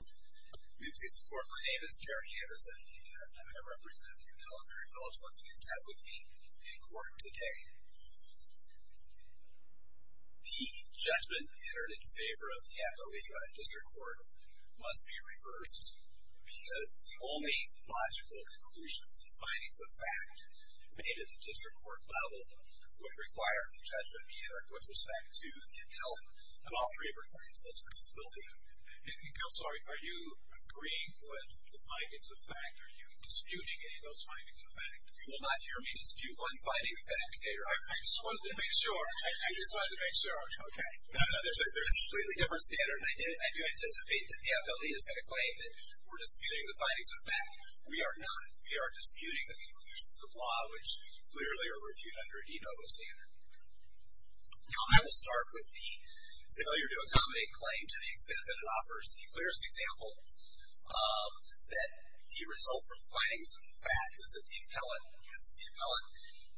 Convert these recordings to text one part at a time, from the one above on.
My name is Derek Anderson and I'm here to represent the Intelligery Phillips Fund Police Advocacy in court today. The judgment entered in favor of the Advocacy by the District Court must be reversed because the only logical conclusion from the findings of fact made at the District Court level would require the judgment be entered with respect to the intel of all three of her claims. Are you agreeing with the findings of fact? Are you disputing any of those findings of fact? You will not hear me dispute one finding of fact. I just wanted to make sure. I just wanted to make sure. Okay. There's a completely different standard and I do anticipate that the FLE is going to claim that we're disputing the findings of fact. We are not. We are disputing the conclusions of law which clearly are reviewed under a de novo standard. Now I will start with the failure to accommodate claim to the extent that it offers the clearest example that the result from findings of fact is that the appellant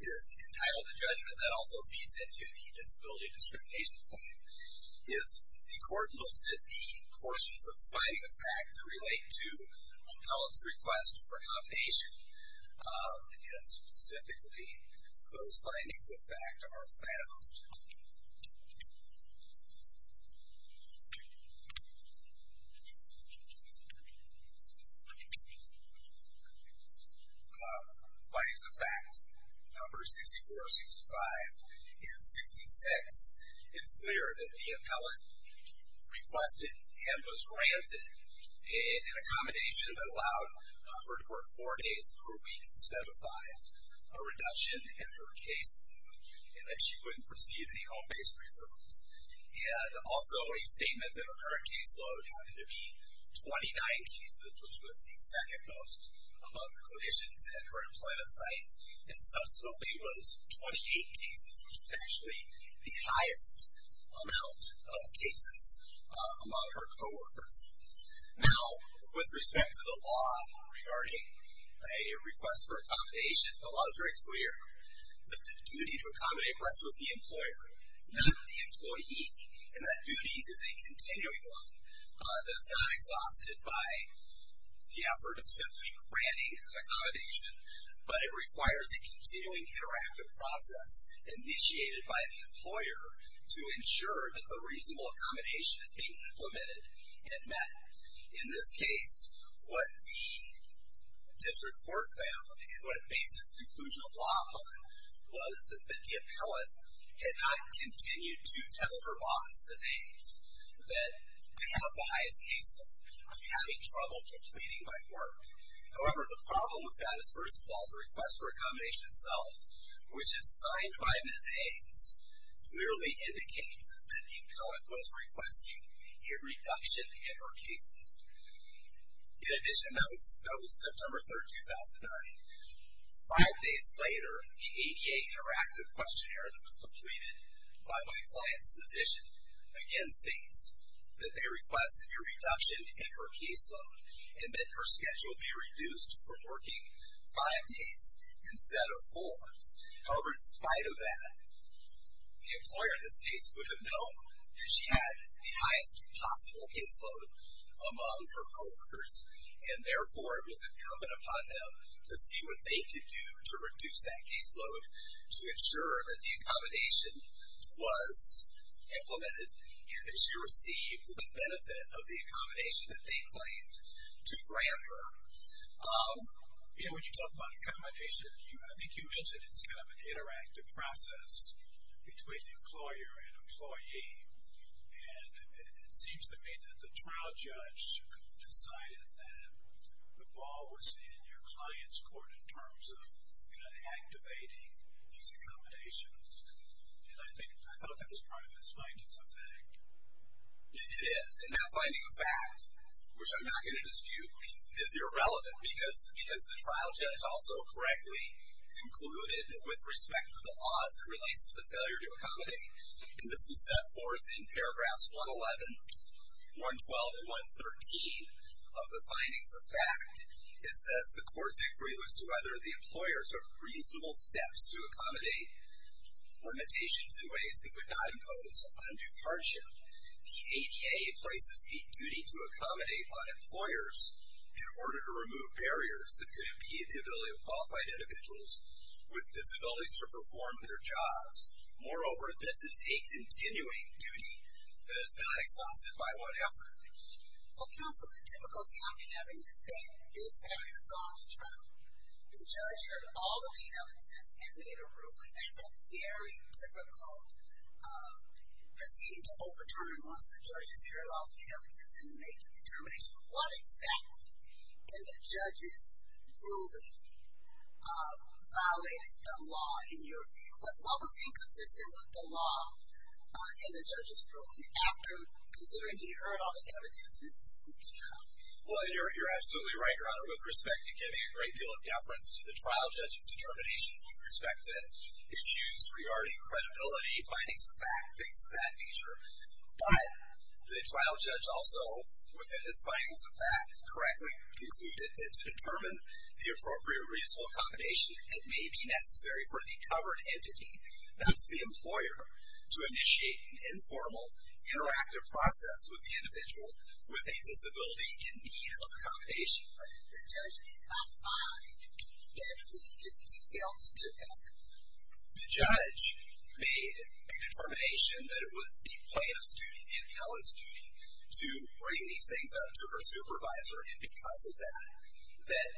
is entitled to judgment. That also feeds into the disability discrimination claim. If the court looks at the portions of the findings of fact that relate to the appellant's request for accommodation and specifically those findings of fact are found. Findings of fact number 64, 65, and 66, it's clear that the appellant requested and was granted an accommodation that allowed her to work four days per week instead of five. A reduction in her caseload and that she wouldn't receive any home-based referrals. And also a statement that her current caseload happened to be 29 cases which was the second most among the clinicians at her employment site. And subsequently was 28 cases which was actually the highest amount of cases among her co-workers. Now, with respect to the law regarding a request for accommodation, the law is very clear that the duty to accommodate rests with the employer, not the employee. And that duty is a continuing one that is not exhausted by the effort of simply granting accommodation. But it requires a continuing interactive process initiated by the employer to ensure that the reasonable accommodation is being implemented and met. In this case, what the district court found and what it based its conclusion of law upon was that the appellant had not continued to tell her boss, Ms. Hayes, that I have the highest caseload. I'm having trouble completing my work. However, the problem with that is, first of all, the request for accommodation itself, which is signed by Ms. Hayes, merely indicates that the appellant was requesting a reduction in her caseload. In addition, that was September 3rd, 2009. Five days later, the ADA interactive questionnaire that was completed by my client's physician again states that they request a reduction in her caseload and that her schedule be reduced from working five days instead of four. However, in spite of that, the employer in this case would have known that she had the highest possible caseload among her coworkers. And therefore, it was incumbent upon them to see what they could do to reduce that caseload to ensure that the accommodation was implemented and that she received the benefit of the accommodation that they claimed to grant her. You know, when you talk about accommodation, I think you mentioned it's kind of an interactive process between the employer and employee. And it seems to me that the trial judge decided that the ball was in your client's court in terms of kind of activating these accommodations. And I thought that was part of this findings effect. It is. And that finding of fact, which I'm not going to dispute, is irrelevant because the trial judge also correctly concluded that with respect to the odds, it relates to the failure to accommodate. And this is set forth in paragraphs 111, 112, and 113 of the findings of fact. It says the court's inquiry looks to whether the employers took reasonable steps to accommodate limitations in ways they would not impose on undue hardship. The ADA places a duty to accommodate on employers in order to remove barriers that could impede the ability of qualified individuals with disabilities to perform their jobs. Moreover, this is a continuing duty that is not exhausted by one effort. So counsel, the difficulty I'm having is that this matter has gone to trial. The judge heard all of the evidence and made a ruling. That's a very difficult proceeding to overturn once the judge has heard all of the evidence and made the determination of what exactly in the judge's ruling violated the law. In your view, what was inconsistent with the law in the judge's ruling after considering he heard all the evidence and this was a weak trial? Well, you're absolutely right, Your Honor. With respect to giving a great deal of confidence to the trial judge's determination, you've respected issues regarding credibility, findings of fact, things of that nature. But the trial judge also, within his findings of fact, correctly concluded that to determine the appropriate reasonable accommodation, it may be necessary for the covered entity, that's the employer, to initiate an informal interactive process with the individual with a disability in need of accommodation. But the judge did not find that the entity failed to do that. The judge made a determination that it was the plaintiff's duty, the appellant's duty, to bring these things up to her supervisor and because of that, that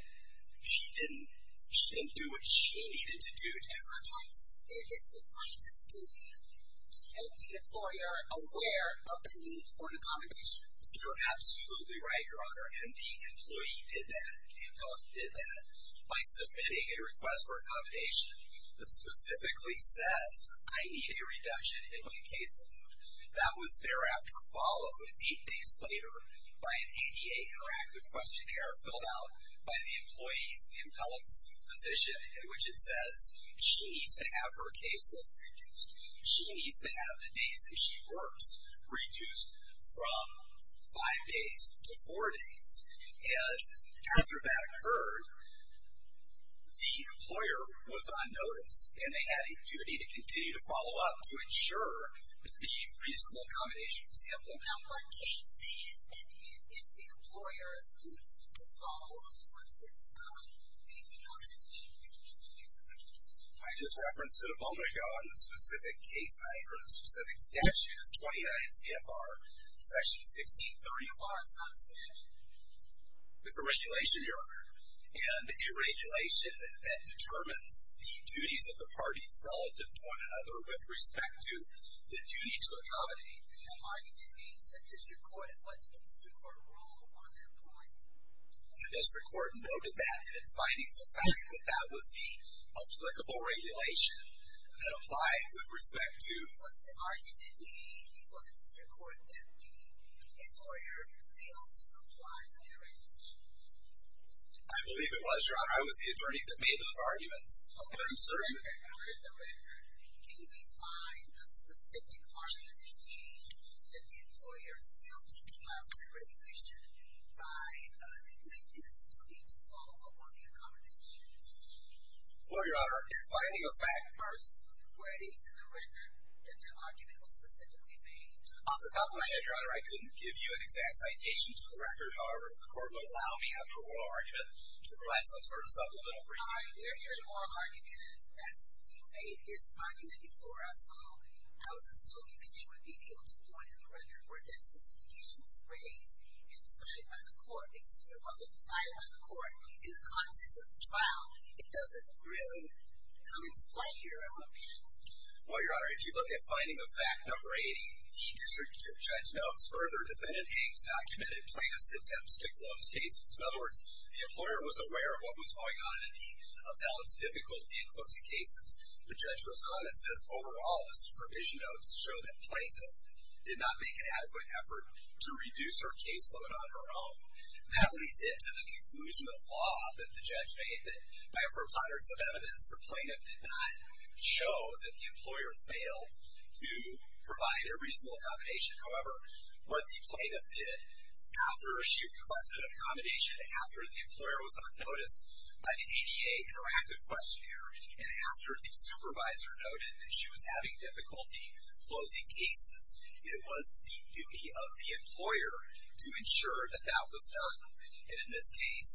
she didn't do what she needed to do. It's the plaintiff's duty to make the employer aware of the need for an accommodation. You're absolutely right, Your Honor, and the employee did that, the appellant did that, by submitting a request for accommodation that specifically says, I need a reduction in my caseload. That was thereafter followed, eight days later, by an ADA interactive questionnaire filled out by the employee's, the appellant's, physician in which it says, she needs to have her caseload reduced. She needs to have the days that she works reduced from five days to four days. And after that occurred, the employer was on notice, and they had a duty to continue to follow up to ensure the reasonable accommodation was handled. Now, what case say is that it is the employer's duty to follow up once it's done? Do you see what I mean? I just referenced it a moment ago on the specific case site or the specific statute. It's 29 CFR, section 1630. CFR is not a statute. It's a regulation, Your Honor, and a regulation that determines the duties of the parties relative to one another with respect to the duty to accommodate. The argument made to the district court, and what did the district court rule on that point? The district court noted that in its findings, the fact that that was the applicable regulation that applied with respect to was the argument made before the district court that the employer failed to comply with the regulation. I believe it was, Your Honor. I was the attorney that made those arguments, and I'm certain. Okay. Where in the record can we find a specific argument made that the employer failed to comply with the regulation by neglecting its duty to follow up on the accommodation? Well, Your Honor, you're finding a fact first where it is in the record that that argument was specifically made. Off the top of my head, Your Honor, I couldn't give you an exact citation to the record. However, if the court would allow me after oral argument to provide some sort of supplemental briefing. All right, we're hearing oral argument, and you made this argument before I saw. I was assuming that you would be able to point in the record where that specification was raised and decided by the court, because if it wasn't decided by the court in the context of the trial, it doesn't really come into play here, I hope. Well, Your Honor, if you look at finding of fact number 80, the distributive judge notes, further defendant Haines documented plaintiff's attempts to close cases. In other words, the employer was aware of what was going on, and he upheld its difficulty in closing cases. The judge goes on and says, overall, the supervision notes show that plaintiff did not make an adequate effort to reduce her caseload on her own. That leads into the conclusion of law that the judge made that by a preponderance of evidence, the plaintiff did not show that the employer failed to provide a reasonable accommodation. However, what the plaintiff did after she requested accommodation, after the employer was on notice by the ADA interactive questionnaire, and after the supervisor noted that she was having difficulty closing cases, it was the duty of the employer to ensure that that was done. And in this case,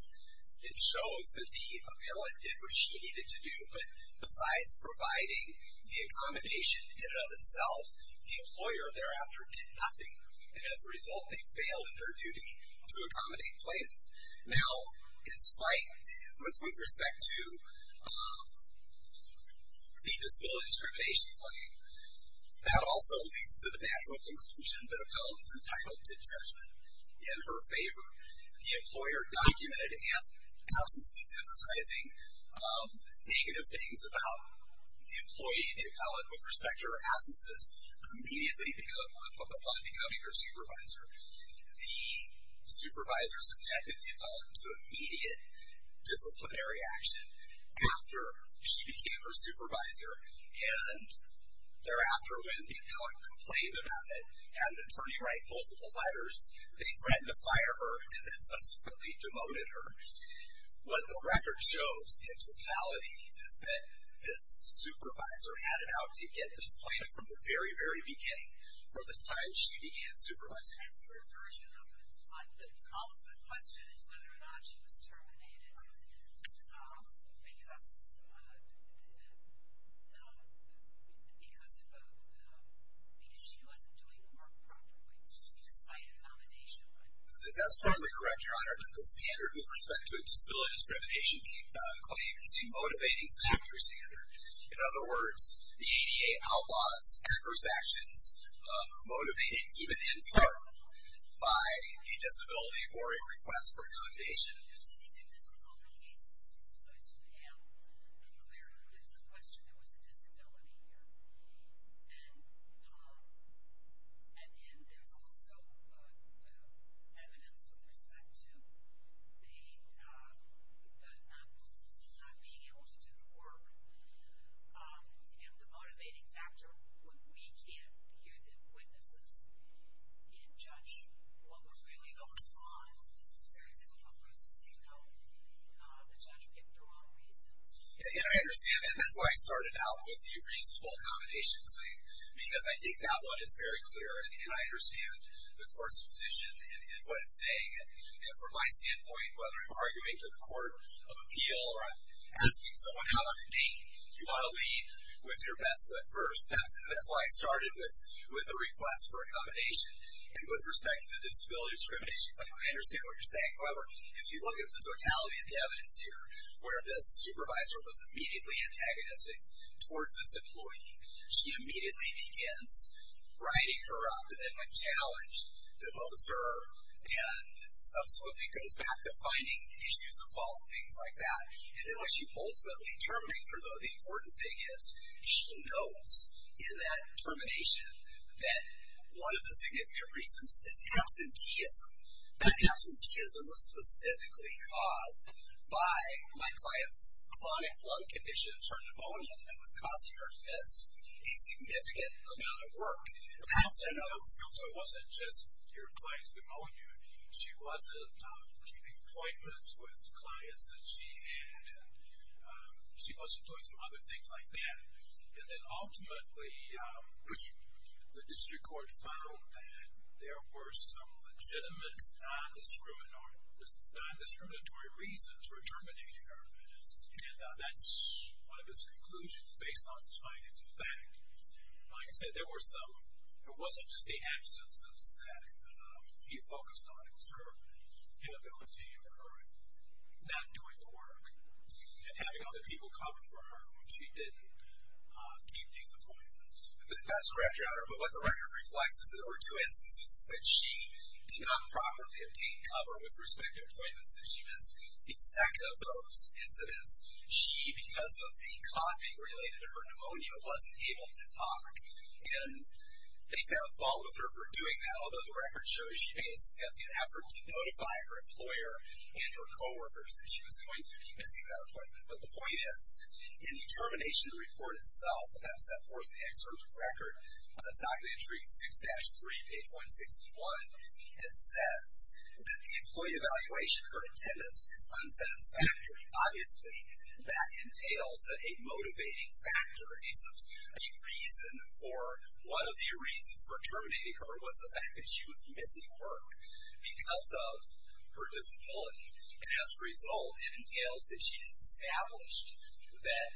it shows that the appellant did what she needed to do, but besides providing the accommodation in and of itself, the employer thereafter did nothing, and as a result, they failed in their duty to accommodate plaintiff. Now, in spite, with respect to the disability discrimination claim, that also leads to the natural conclusion that appellant is entitled to judgment in her favor. The employer documented absences, emphasizing negative things about the employee and the appellant with respect to her absences immediately upon becoming her supervisor. The supervisor subjected the appellant to immediate disciplinary action after she became her supervisor, and thereafter, when the appellant complained about it, had an attorney write multiple letters, they threatened to fire her and then subsequently demoted her. What the record shows in totality is that this supervisor had it out to get this plaintiff from the very, very beginning, from the time she began supervising. The ultimate question is whether or not she was terminated because she wasn't doing the work properly, despite accommodation. That's partly correct, Your Honor. The standard with respect to a disability discrimination claim is a motivating factor standard. In other words, the ADA outlaws adverse actions motivated even in part by a disability or a request for accommodation. There's an example of multiple cases, but to be clear, there's the question, there was a disability here. And then there's also evidence with respect to the not being able to do the work. And the motivating factor, when we can't hear the witnesses and judge what was really going on, it's very difficult for us to say, no, the judge picked the wrong reason. And I understand that. That's why I started out with the reasonable accommodation claim because I think that one is very clear, and I understand the court's position and what it's saying. From my standpoint, whether I'm arguing to the court of appeal or I'm asking someone how to convene, you want to lead with your best foot first. That's why I started with the request for accommodation. And with respect to the disability discrimination claim, I understand what you're saying. However, if you look at the totality of the evidence here, where this supervisor was immediately antagonistic towards this employee, she immediately begins writing her up and then when challenged, devotes her and subsequently goes back to finding issues of fault and things like that. And then when she ultimately terminates her, the important thing is she notes in that termination that one of the significant reasons is absenteeism. That absenteeism was specifically caused by my client's chronic lung conditions, her pneumonia, and was causing her to miss a significant amount of work. So it wasn't just your client's pneumonia. She wasn't keeping appointments with clients that she had and she wasn't doing some other things like that. And then ultimately the district court found that there were some legitimate non-discriminatory reasons for terminating her. And that's one of his conclusions based on his findings. In fact, like I said, there were some. It wasn't just the absences that he focused on. It was her inability or her not doing the work and having other people cover for her when she didn't keep these appointments. That's correct, Your Honor, but what the record reflects is there were two instances in which she did not properly obtain cover with respect to appointments, and she missed a second of those incidents. She, because of a coughing related to her pneumonia, wasn't able to talk. And they found fault with her for doing that, although the record shows she made an effort to notify her employer and her coworkers that she was going to be missing that appointment. But the point is, in the termination report itself, and I've set forth in the excerpt of the record, it's not going to intrigue you, 6-3, page 161, it says that the employee evaluation, her attendance is unsatisfactory. Obviously that entails that a motivating factor, the reason for, one of the reasons for terminating her was the fact that she was missing work because of her disability. And as a result, it entails that she has established that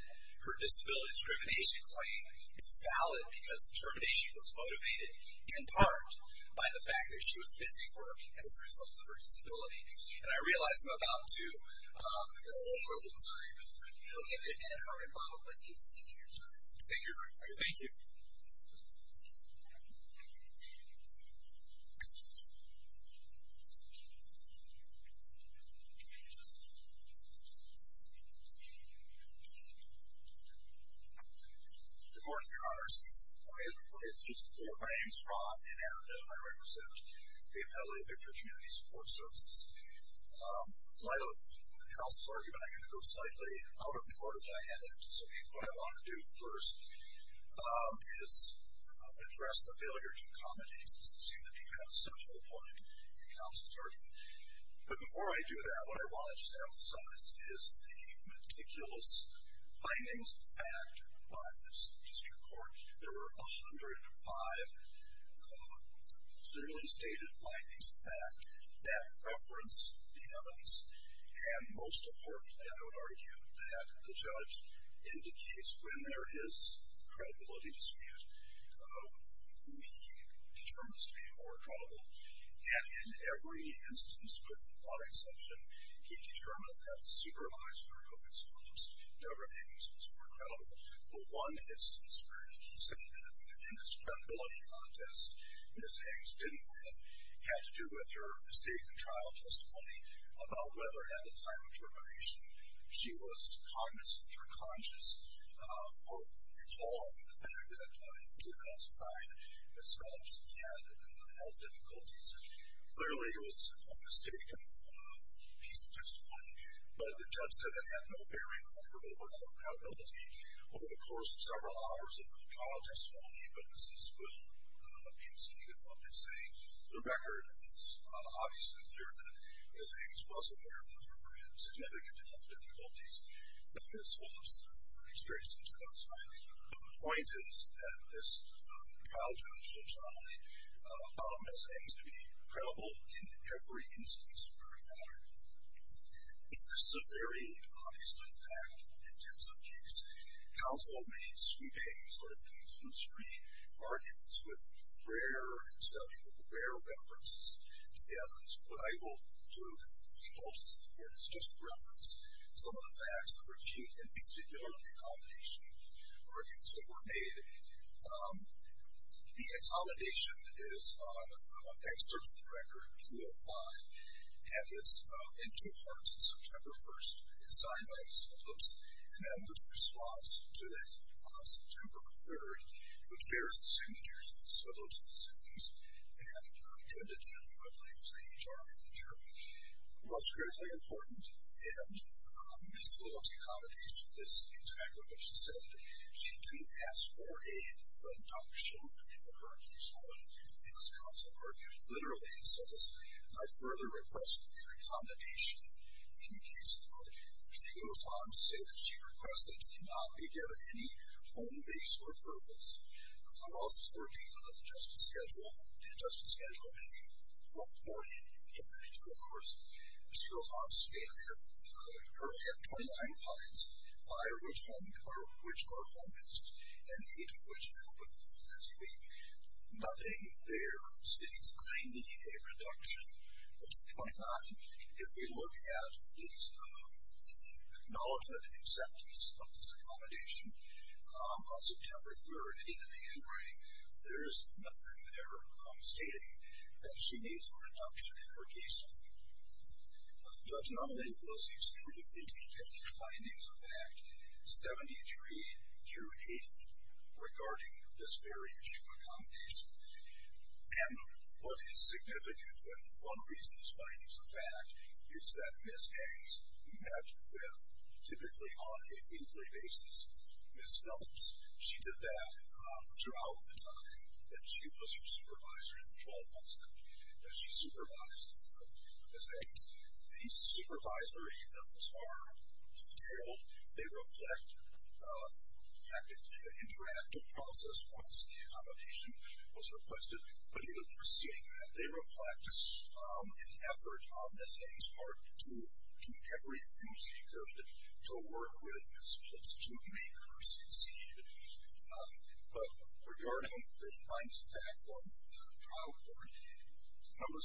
her disability discrimination claim is valid because the termination was motivated, in part, by the fact that she was missing work as a result of her disability. And I realize I'm about to, I'm sorry. We'll give you a minute for a rebuttal, but you've exceeded your time. Thank you. Thank you. Good morning, Congress. My name is Rob, and as you know, I represent the Appellate Victor Community Support Services. In light of Counsel's argument, I'm going to go slightly out of the order that I had it. So what I want to do first is address the failure to accommodate, because it seems to be kind of a central point in Counsel's argument. But before I do that, what I want to just emphasize is the meticulous findings of fact by this district court. There were 105 clearly stated findings of fact that reference the evidence. And most importantly, I would argue that the judge indicates when there is credibility dispute, he determines to be more credible. And in every instance, with one exception, he determined that the supervisor of his homes, Deborah Higgs, was more credible. But one instance where he said that, in this credibility contest, Ms. Higgs didn't win had to do with her mistake in trial testimony about whether at the time of termination she was cognizant or conscious or recalling the fact that in 2009, Ms. Phillips had health difficulties. And clearly, it was a mistaken piece of testimony. But the judge said it had no bearing on her overall credibility over the course of several hours of trial testimony. But this is well-conceived in what they're saying. The record is obviously clear that Ms. Higgs was aware that Deborah Higgs had significant health difficulties in Ms. Phillips' experience in 2009. But the point is that this trial-judged testimony found Ms. Higgs to be credible in every instance of her matter. This is a very obviously fact in terms of case. Counsel made sweeping, sort of conclusory arguments with rare, exceptional, rare references to evidence. What I will do, and I hope this is important, is just reference some of the facts that were used in particular in the accommodation arguments that were made. The accommodation is on excerpts of the record 205. And it's in two parts. It's September 1st. It's signed by Ms. Phillips. And then there's a response to that on September 3rd, which bears the signatures of Ms. Phillips and Ms. Higgs. And I turned it down. I believe it was the HR manager. Well, it's critically important. And Ms. Phillips' accommodation is exactly what she said. She didn't ask for a reduction in her case load, as counsel argued. Literally, it says, I further request an accommodation in the case load. She goes on to say that she requested to not be given any home-based referrals. I'm also working on an adjusted schedule. The adjusted schedule will be from 40 to 32 hours. She goes on to state, I currently have 29 clients. Five of which are home-based. And eight of which opened last week. Nothing there states, I need a reduction of 29. If we look at the acknowledgment and acceptance of this accommodation on September 3rd, in the handwriting, there's nothing there stating that she needs a reduction in her case load. Judge Nunley was extremely brief in the findings of Act 73, year 80, regarding this very issue of accommodation. And what is significant, one reason this finding is a fact, is that Ms. Hanks met with, typically on a weekly basis, Ms. Phillips. She did that throughout the time that she was her supervisor in the 12 months that she supervised Ms. Hanks. These supervisory notes are detailed. They reflect, effectively, the interactive process once the accommodation was requested. But even proceeding with that, they reflect an effort on Ms. Hanks' part to do everything she could to work with Ms. Phillips to make her succeed. But regarding the findings of Act 1, Trial Court Number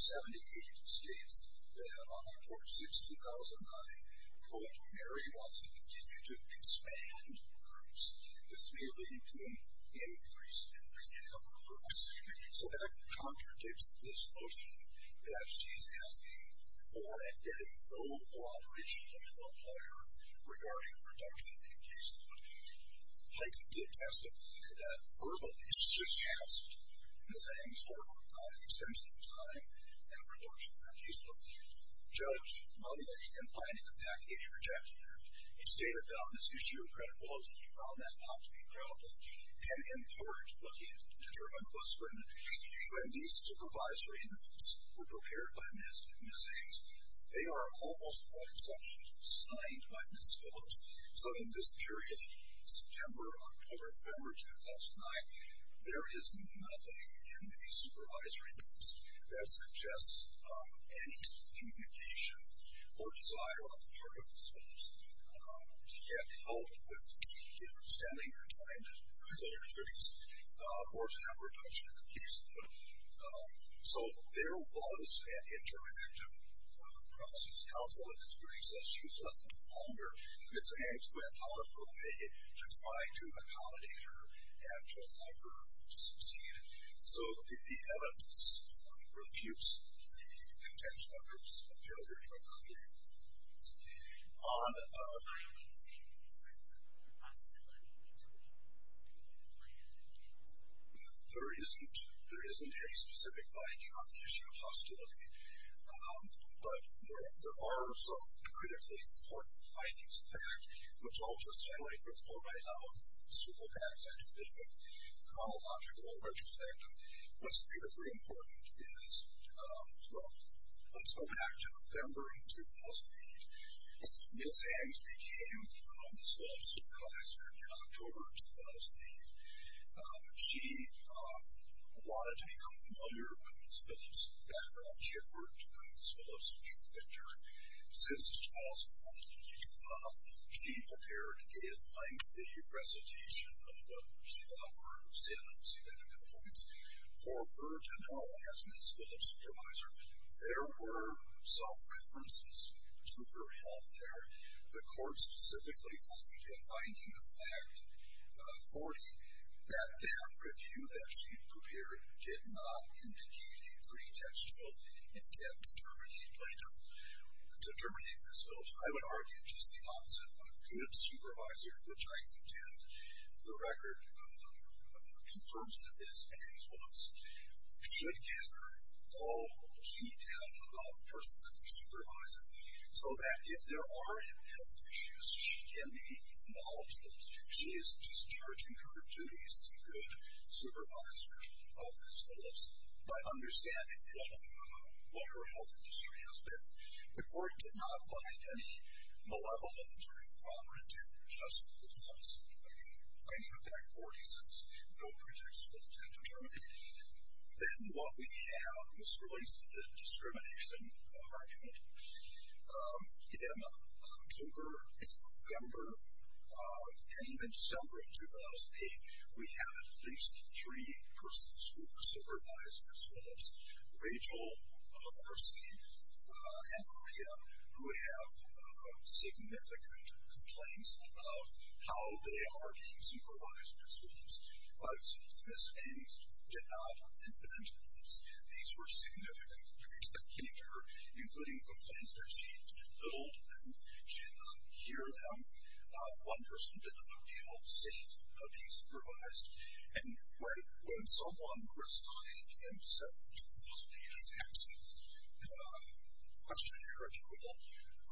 78 states that on October 6, 2009, Court Mary wants to continue to expand groups. This may lead to an increase in the number of groups. So that contradicts this notion that she's asking for and getting no cooperation from a lawyer regarding a reduction in case load. She did testify that verbally she has asked Ms. Hanks for an extension of time and a reduction in her case load. Judge Nunley, in finding the fact that he rejected it, he stated that on this issue of credibility, he found that not to be credible. And in court, what he determined was when these supervisory notes were prepared by Ms. Hanks, they are almost by exception signed by Ms. Phillips. So in this period, September, October, November 2009, there is nothing in these supervisory notes that suggests any communication or desire on the part of Ms. Phillips to get help with either extending her time to further her case or to have a reduction in the case load. So there was an interactive process. Counsel in this period says she was left no longer. Ms. Hanks went out of her way to try to accommodate her and to allow her to succeed. failure to accommodate. On... There isn't any specific finding on the issue of hostility, but there are some critically important findings. In fact, which I'll just highlight before I now swivel back into a bit of a chronological retrospective, what's critically important is, well, let's go back to November 2008. Ms. Hanks became Ms. Phillips' supervisor in October 2008. She wanted to become familiar with Ms. Phillips' background. She had worked with Ms. Phillips since she was a child. She prepared a lengthy recitation of what she thought were seven significant points for her to know as Ms. Phillips' supervisor. There were some references to her health there. The court specifically found in binding effect 40 that that review that she prepared did not indicate a pretextual intent to terminate Ms. Phillips. I would argue just the opposite. A good supervisor, which I contend the record confirms that Ms. Phillips was, should gather all detail about the person that they're supervising so that if there are any health issues, she can be knowledgeable. She is discharging her duties as a good supervisor of Ms. Phillips by understanding what her health history has been. The court did not find any malevolent or improper intent, just the opposite. Binding effect 40 says no pretextual intent to terminate. Then what we have as relates to the discrimination argument, in October, in November, and even December of 2008, we have at least three persons who were supervising Ms. Phillips, Rachel, Marcy, and Maria, who have significant complaints about how they are being supervised by Ms. Phillips. Ms. Phillips did not invent the clips. These were significant complaints that came to her, including complaints that she had been little to them. She did not hear them. One person did not feel safe being supervised. And when someone resigned and said, I'm going to close the access questionnaire, if you will,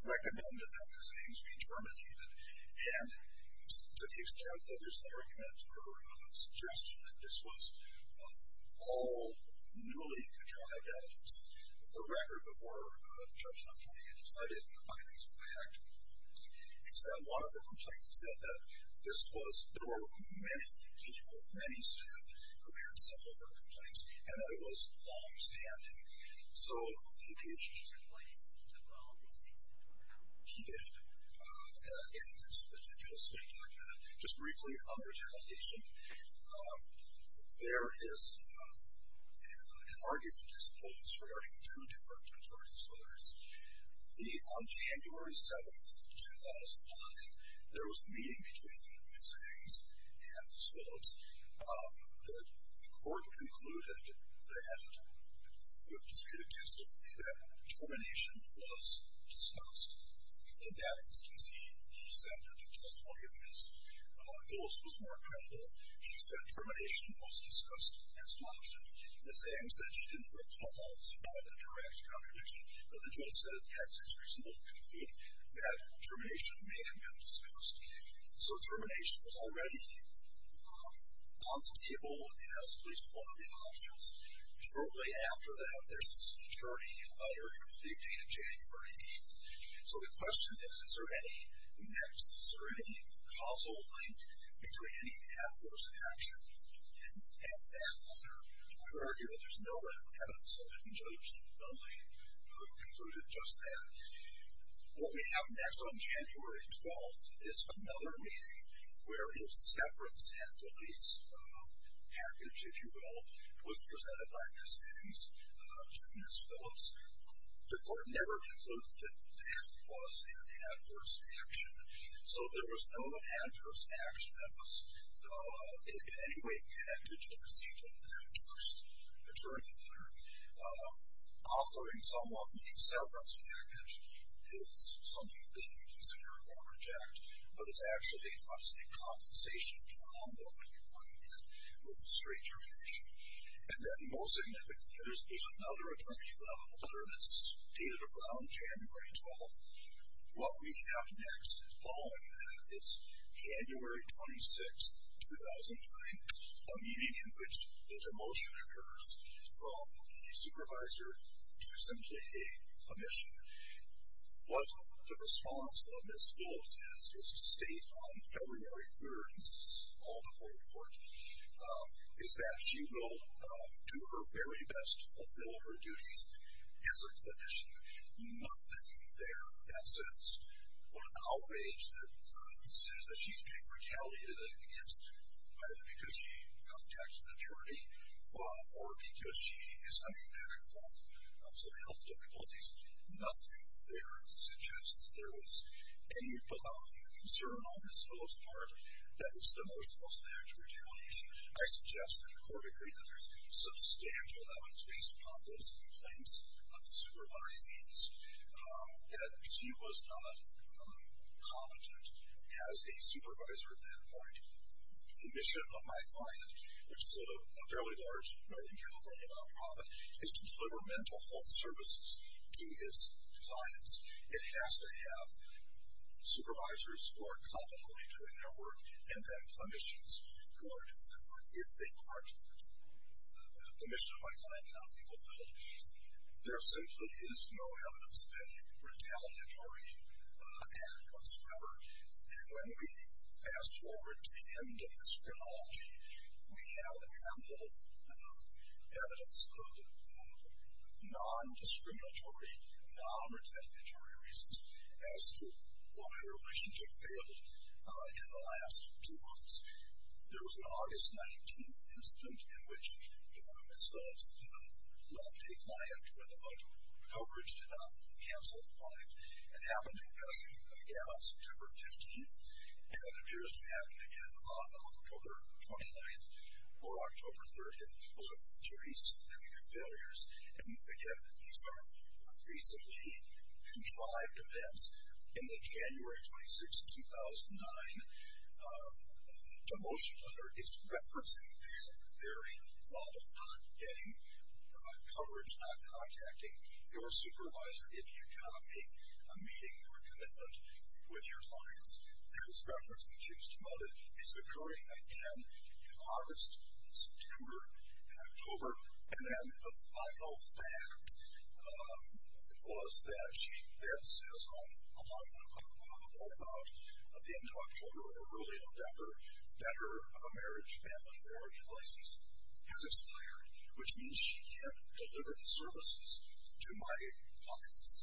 recommend that those things be terminated. And to the extent that there's no argument or suggestion that this was all newly contrived evidence, the record before Judge Napoli had decided to bind these back, is that a lot of the complaints said that this was, there were many people, many staff who had similar complaints and that it was long-standing. So he did, in his particular state document, just briefly on retaliation, there is an argument, as it holds, regarding two different attorneys, whether it's the, on January 7th, 2009, there was a meeting between Edwin Sings and Ms. Phillips. The court concluded that, with respect to testimony, that termination was discussed. In that instance, he said that the testimony of Ms. Phillips was more credible. She said termination was discussed as an option. Ms. Sings said she didn't recall. It's not a direct contradiction. But the judge said, yes, it's reasonable to conclude that termination may have been discussed. So termination was already on the table as at least one of the options. Shortly after that, there's this attorney letter, the date of January 8th. So the question is, is there any next, is there any causal link between any of that course of action? And in that letter, I would argue that there's no evidence that Judge Napoli concluded just that. What we have next on January 12th is another meeting where his severance and release package, if you will, was presented by Ms. Sings to Ms. Phillips. The court never concluded that that was an adverse action. So there was no adverse action that was in any way connected to the receipt of that first attorney letter. Offering someone a severance package is something that they can consider or reject, but it's actually not a compensation combo that you want to get with a straight termination. And then most significantly, there's another attorney letter that's dated around January 12th. What we have next following that is January 26th, 2009, a meeting in which the demotion occurs from a supervisor to simply a clinician. What the response of Ms. Phillips is, is to state on February 3rd, and this is all before the court, is that she will do her very best to fulfill her duties as a clinician. Nothing there that says what an outrage that she's being retaliated against, either because she contacted an attorney or because she is coming back from some health difficulties. Nothing there that suggests that there was any concern on Ms. Phillips' part that this demotion was an act of retaliation. I suggest that the court agree that there's substantial evidence based upon those complaints of the supervisees that she was not competent as a supervisor at that point. The mission of my client, which is a fairly large Northern California nonprofit, is to deliver mental health services to its clients. It has to have supervisors who are competently doing their work and then clinicians who are doing their work. If they aren't, the mission of my client and how people feel, there simply is no evidence of any retaliatory act whatsoever. And when we fast forward to the end of this chronology, we have ample evidence of non-discriminatory, non-retaliatory reasons as to why their relationship failed in the last two months. There was an August 19 incident in which Ms. Phillips left a client without coverage, did not cancel the client. It happened again on September 15th, and it appears to be happening again on October 29th or October 30th. So three significant failures. And, again, these are recently contrived events. In the January 26, 2009 demotion letter, it's referencing that very problem, not getting coverage, not contacting your supervisor. If you cannot make a meeting or a commitment with your clients, there's reference that you've demoted. And then the final fact was that she then says, along with her mom, or about the end of October or early November, that her marriage, family, or any license has expired, which means she can't deliver the services to my clients.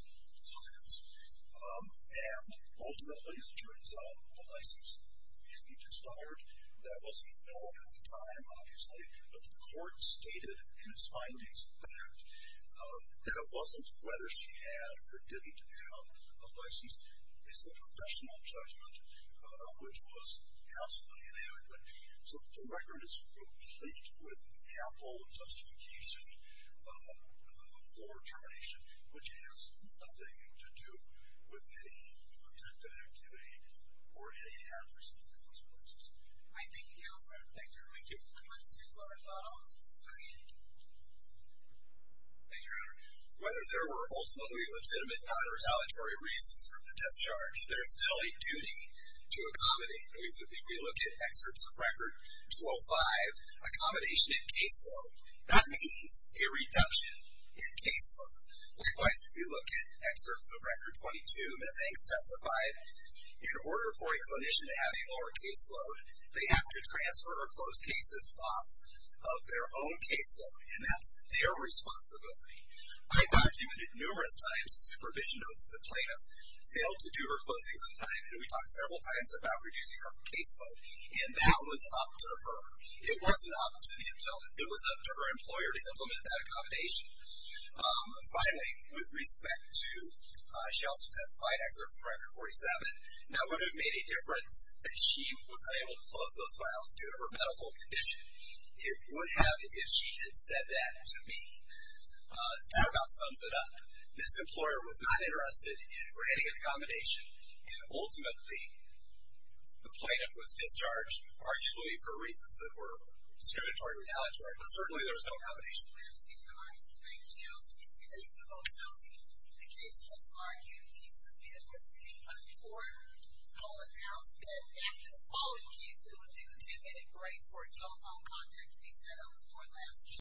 And ultimately, as it turns out, the license indeed expired. That wasn't known at the time, obviously, but the court stated in its findings that it wasn't whether she had or didn't have a license. It's a professional judgment, which was absolutely inadequate. So the record is complete with ample justification for termination, which has nothing to do with any protective activity or any adverse consequences. All right, thank you, Counselor. Thank you very much. I'd like to take one more call. Go ahead. Thank you, Your Honor. Whether there were ultimately legitimate non-retaliatory reasons for the discharge, there is still a duty to accommodate. If we look at excerpts of Record 12-5, accommodation and caseload, that means a reduction in caseload. Likewise, if you look at excerpts of Record 22, Ms. Hanks testified, that in order for a clinician to have a lower caseload, they have to transfer her closed cases off of their own caseload, and that's their responsibility. I documented numerous times supervision notes that plaintiffs failed to do her closings on time, and we talked several times about reducing her caseload, and that was up to her. It wasn't up to the employer. It was up to her employer to implement that accommodation. Finally, with respect to, she also testified, excerpts of Record 47, that would have made a difference that she was unable to close those files due to her medical condition. It would have if she had said that to me. That about sums it up. This employer was not interested in granting an accommodation, and ultimately the plaintiff was discharged, arguably for reasons that were discriminatory or retaliatory, but certainly there was no accommodation.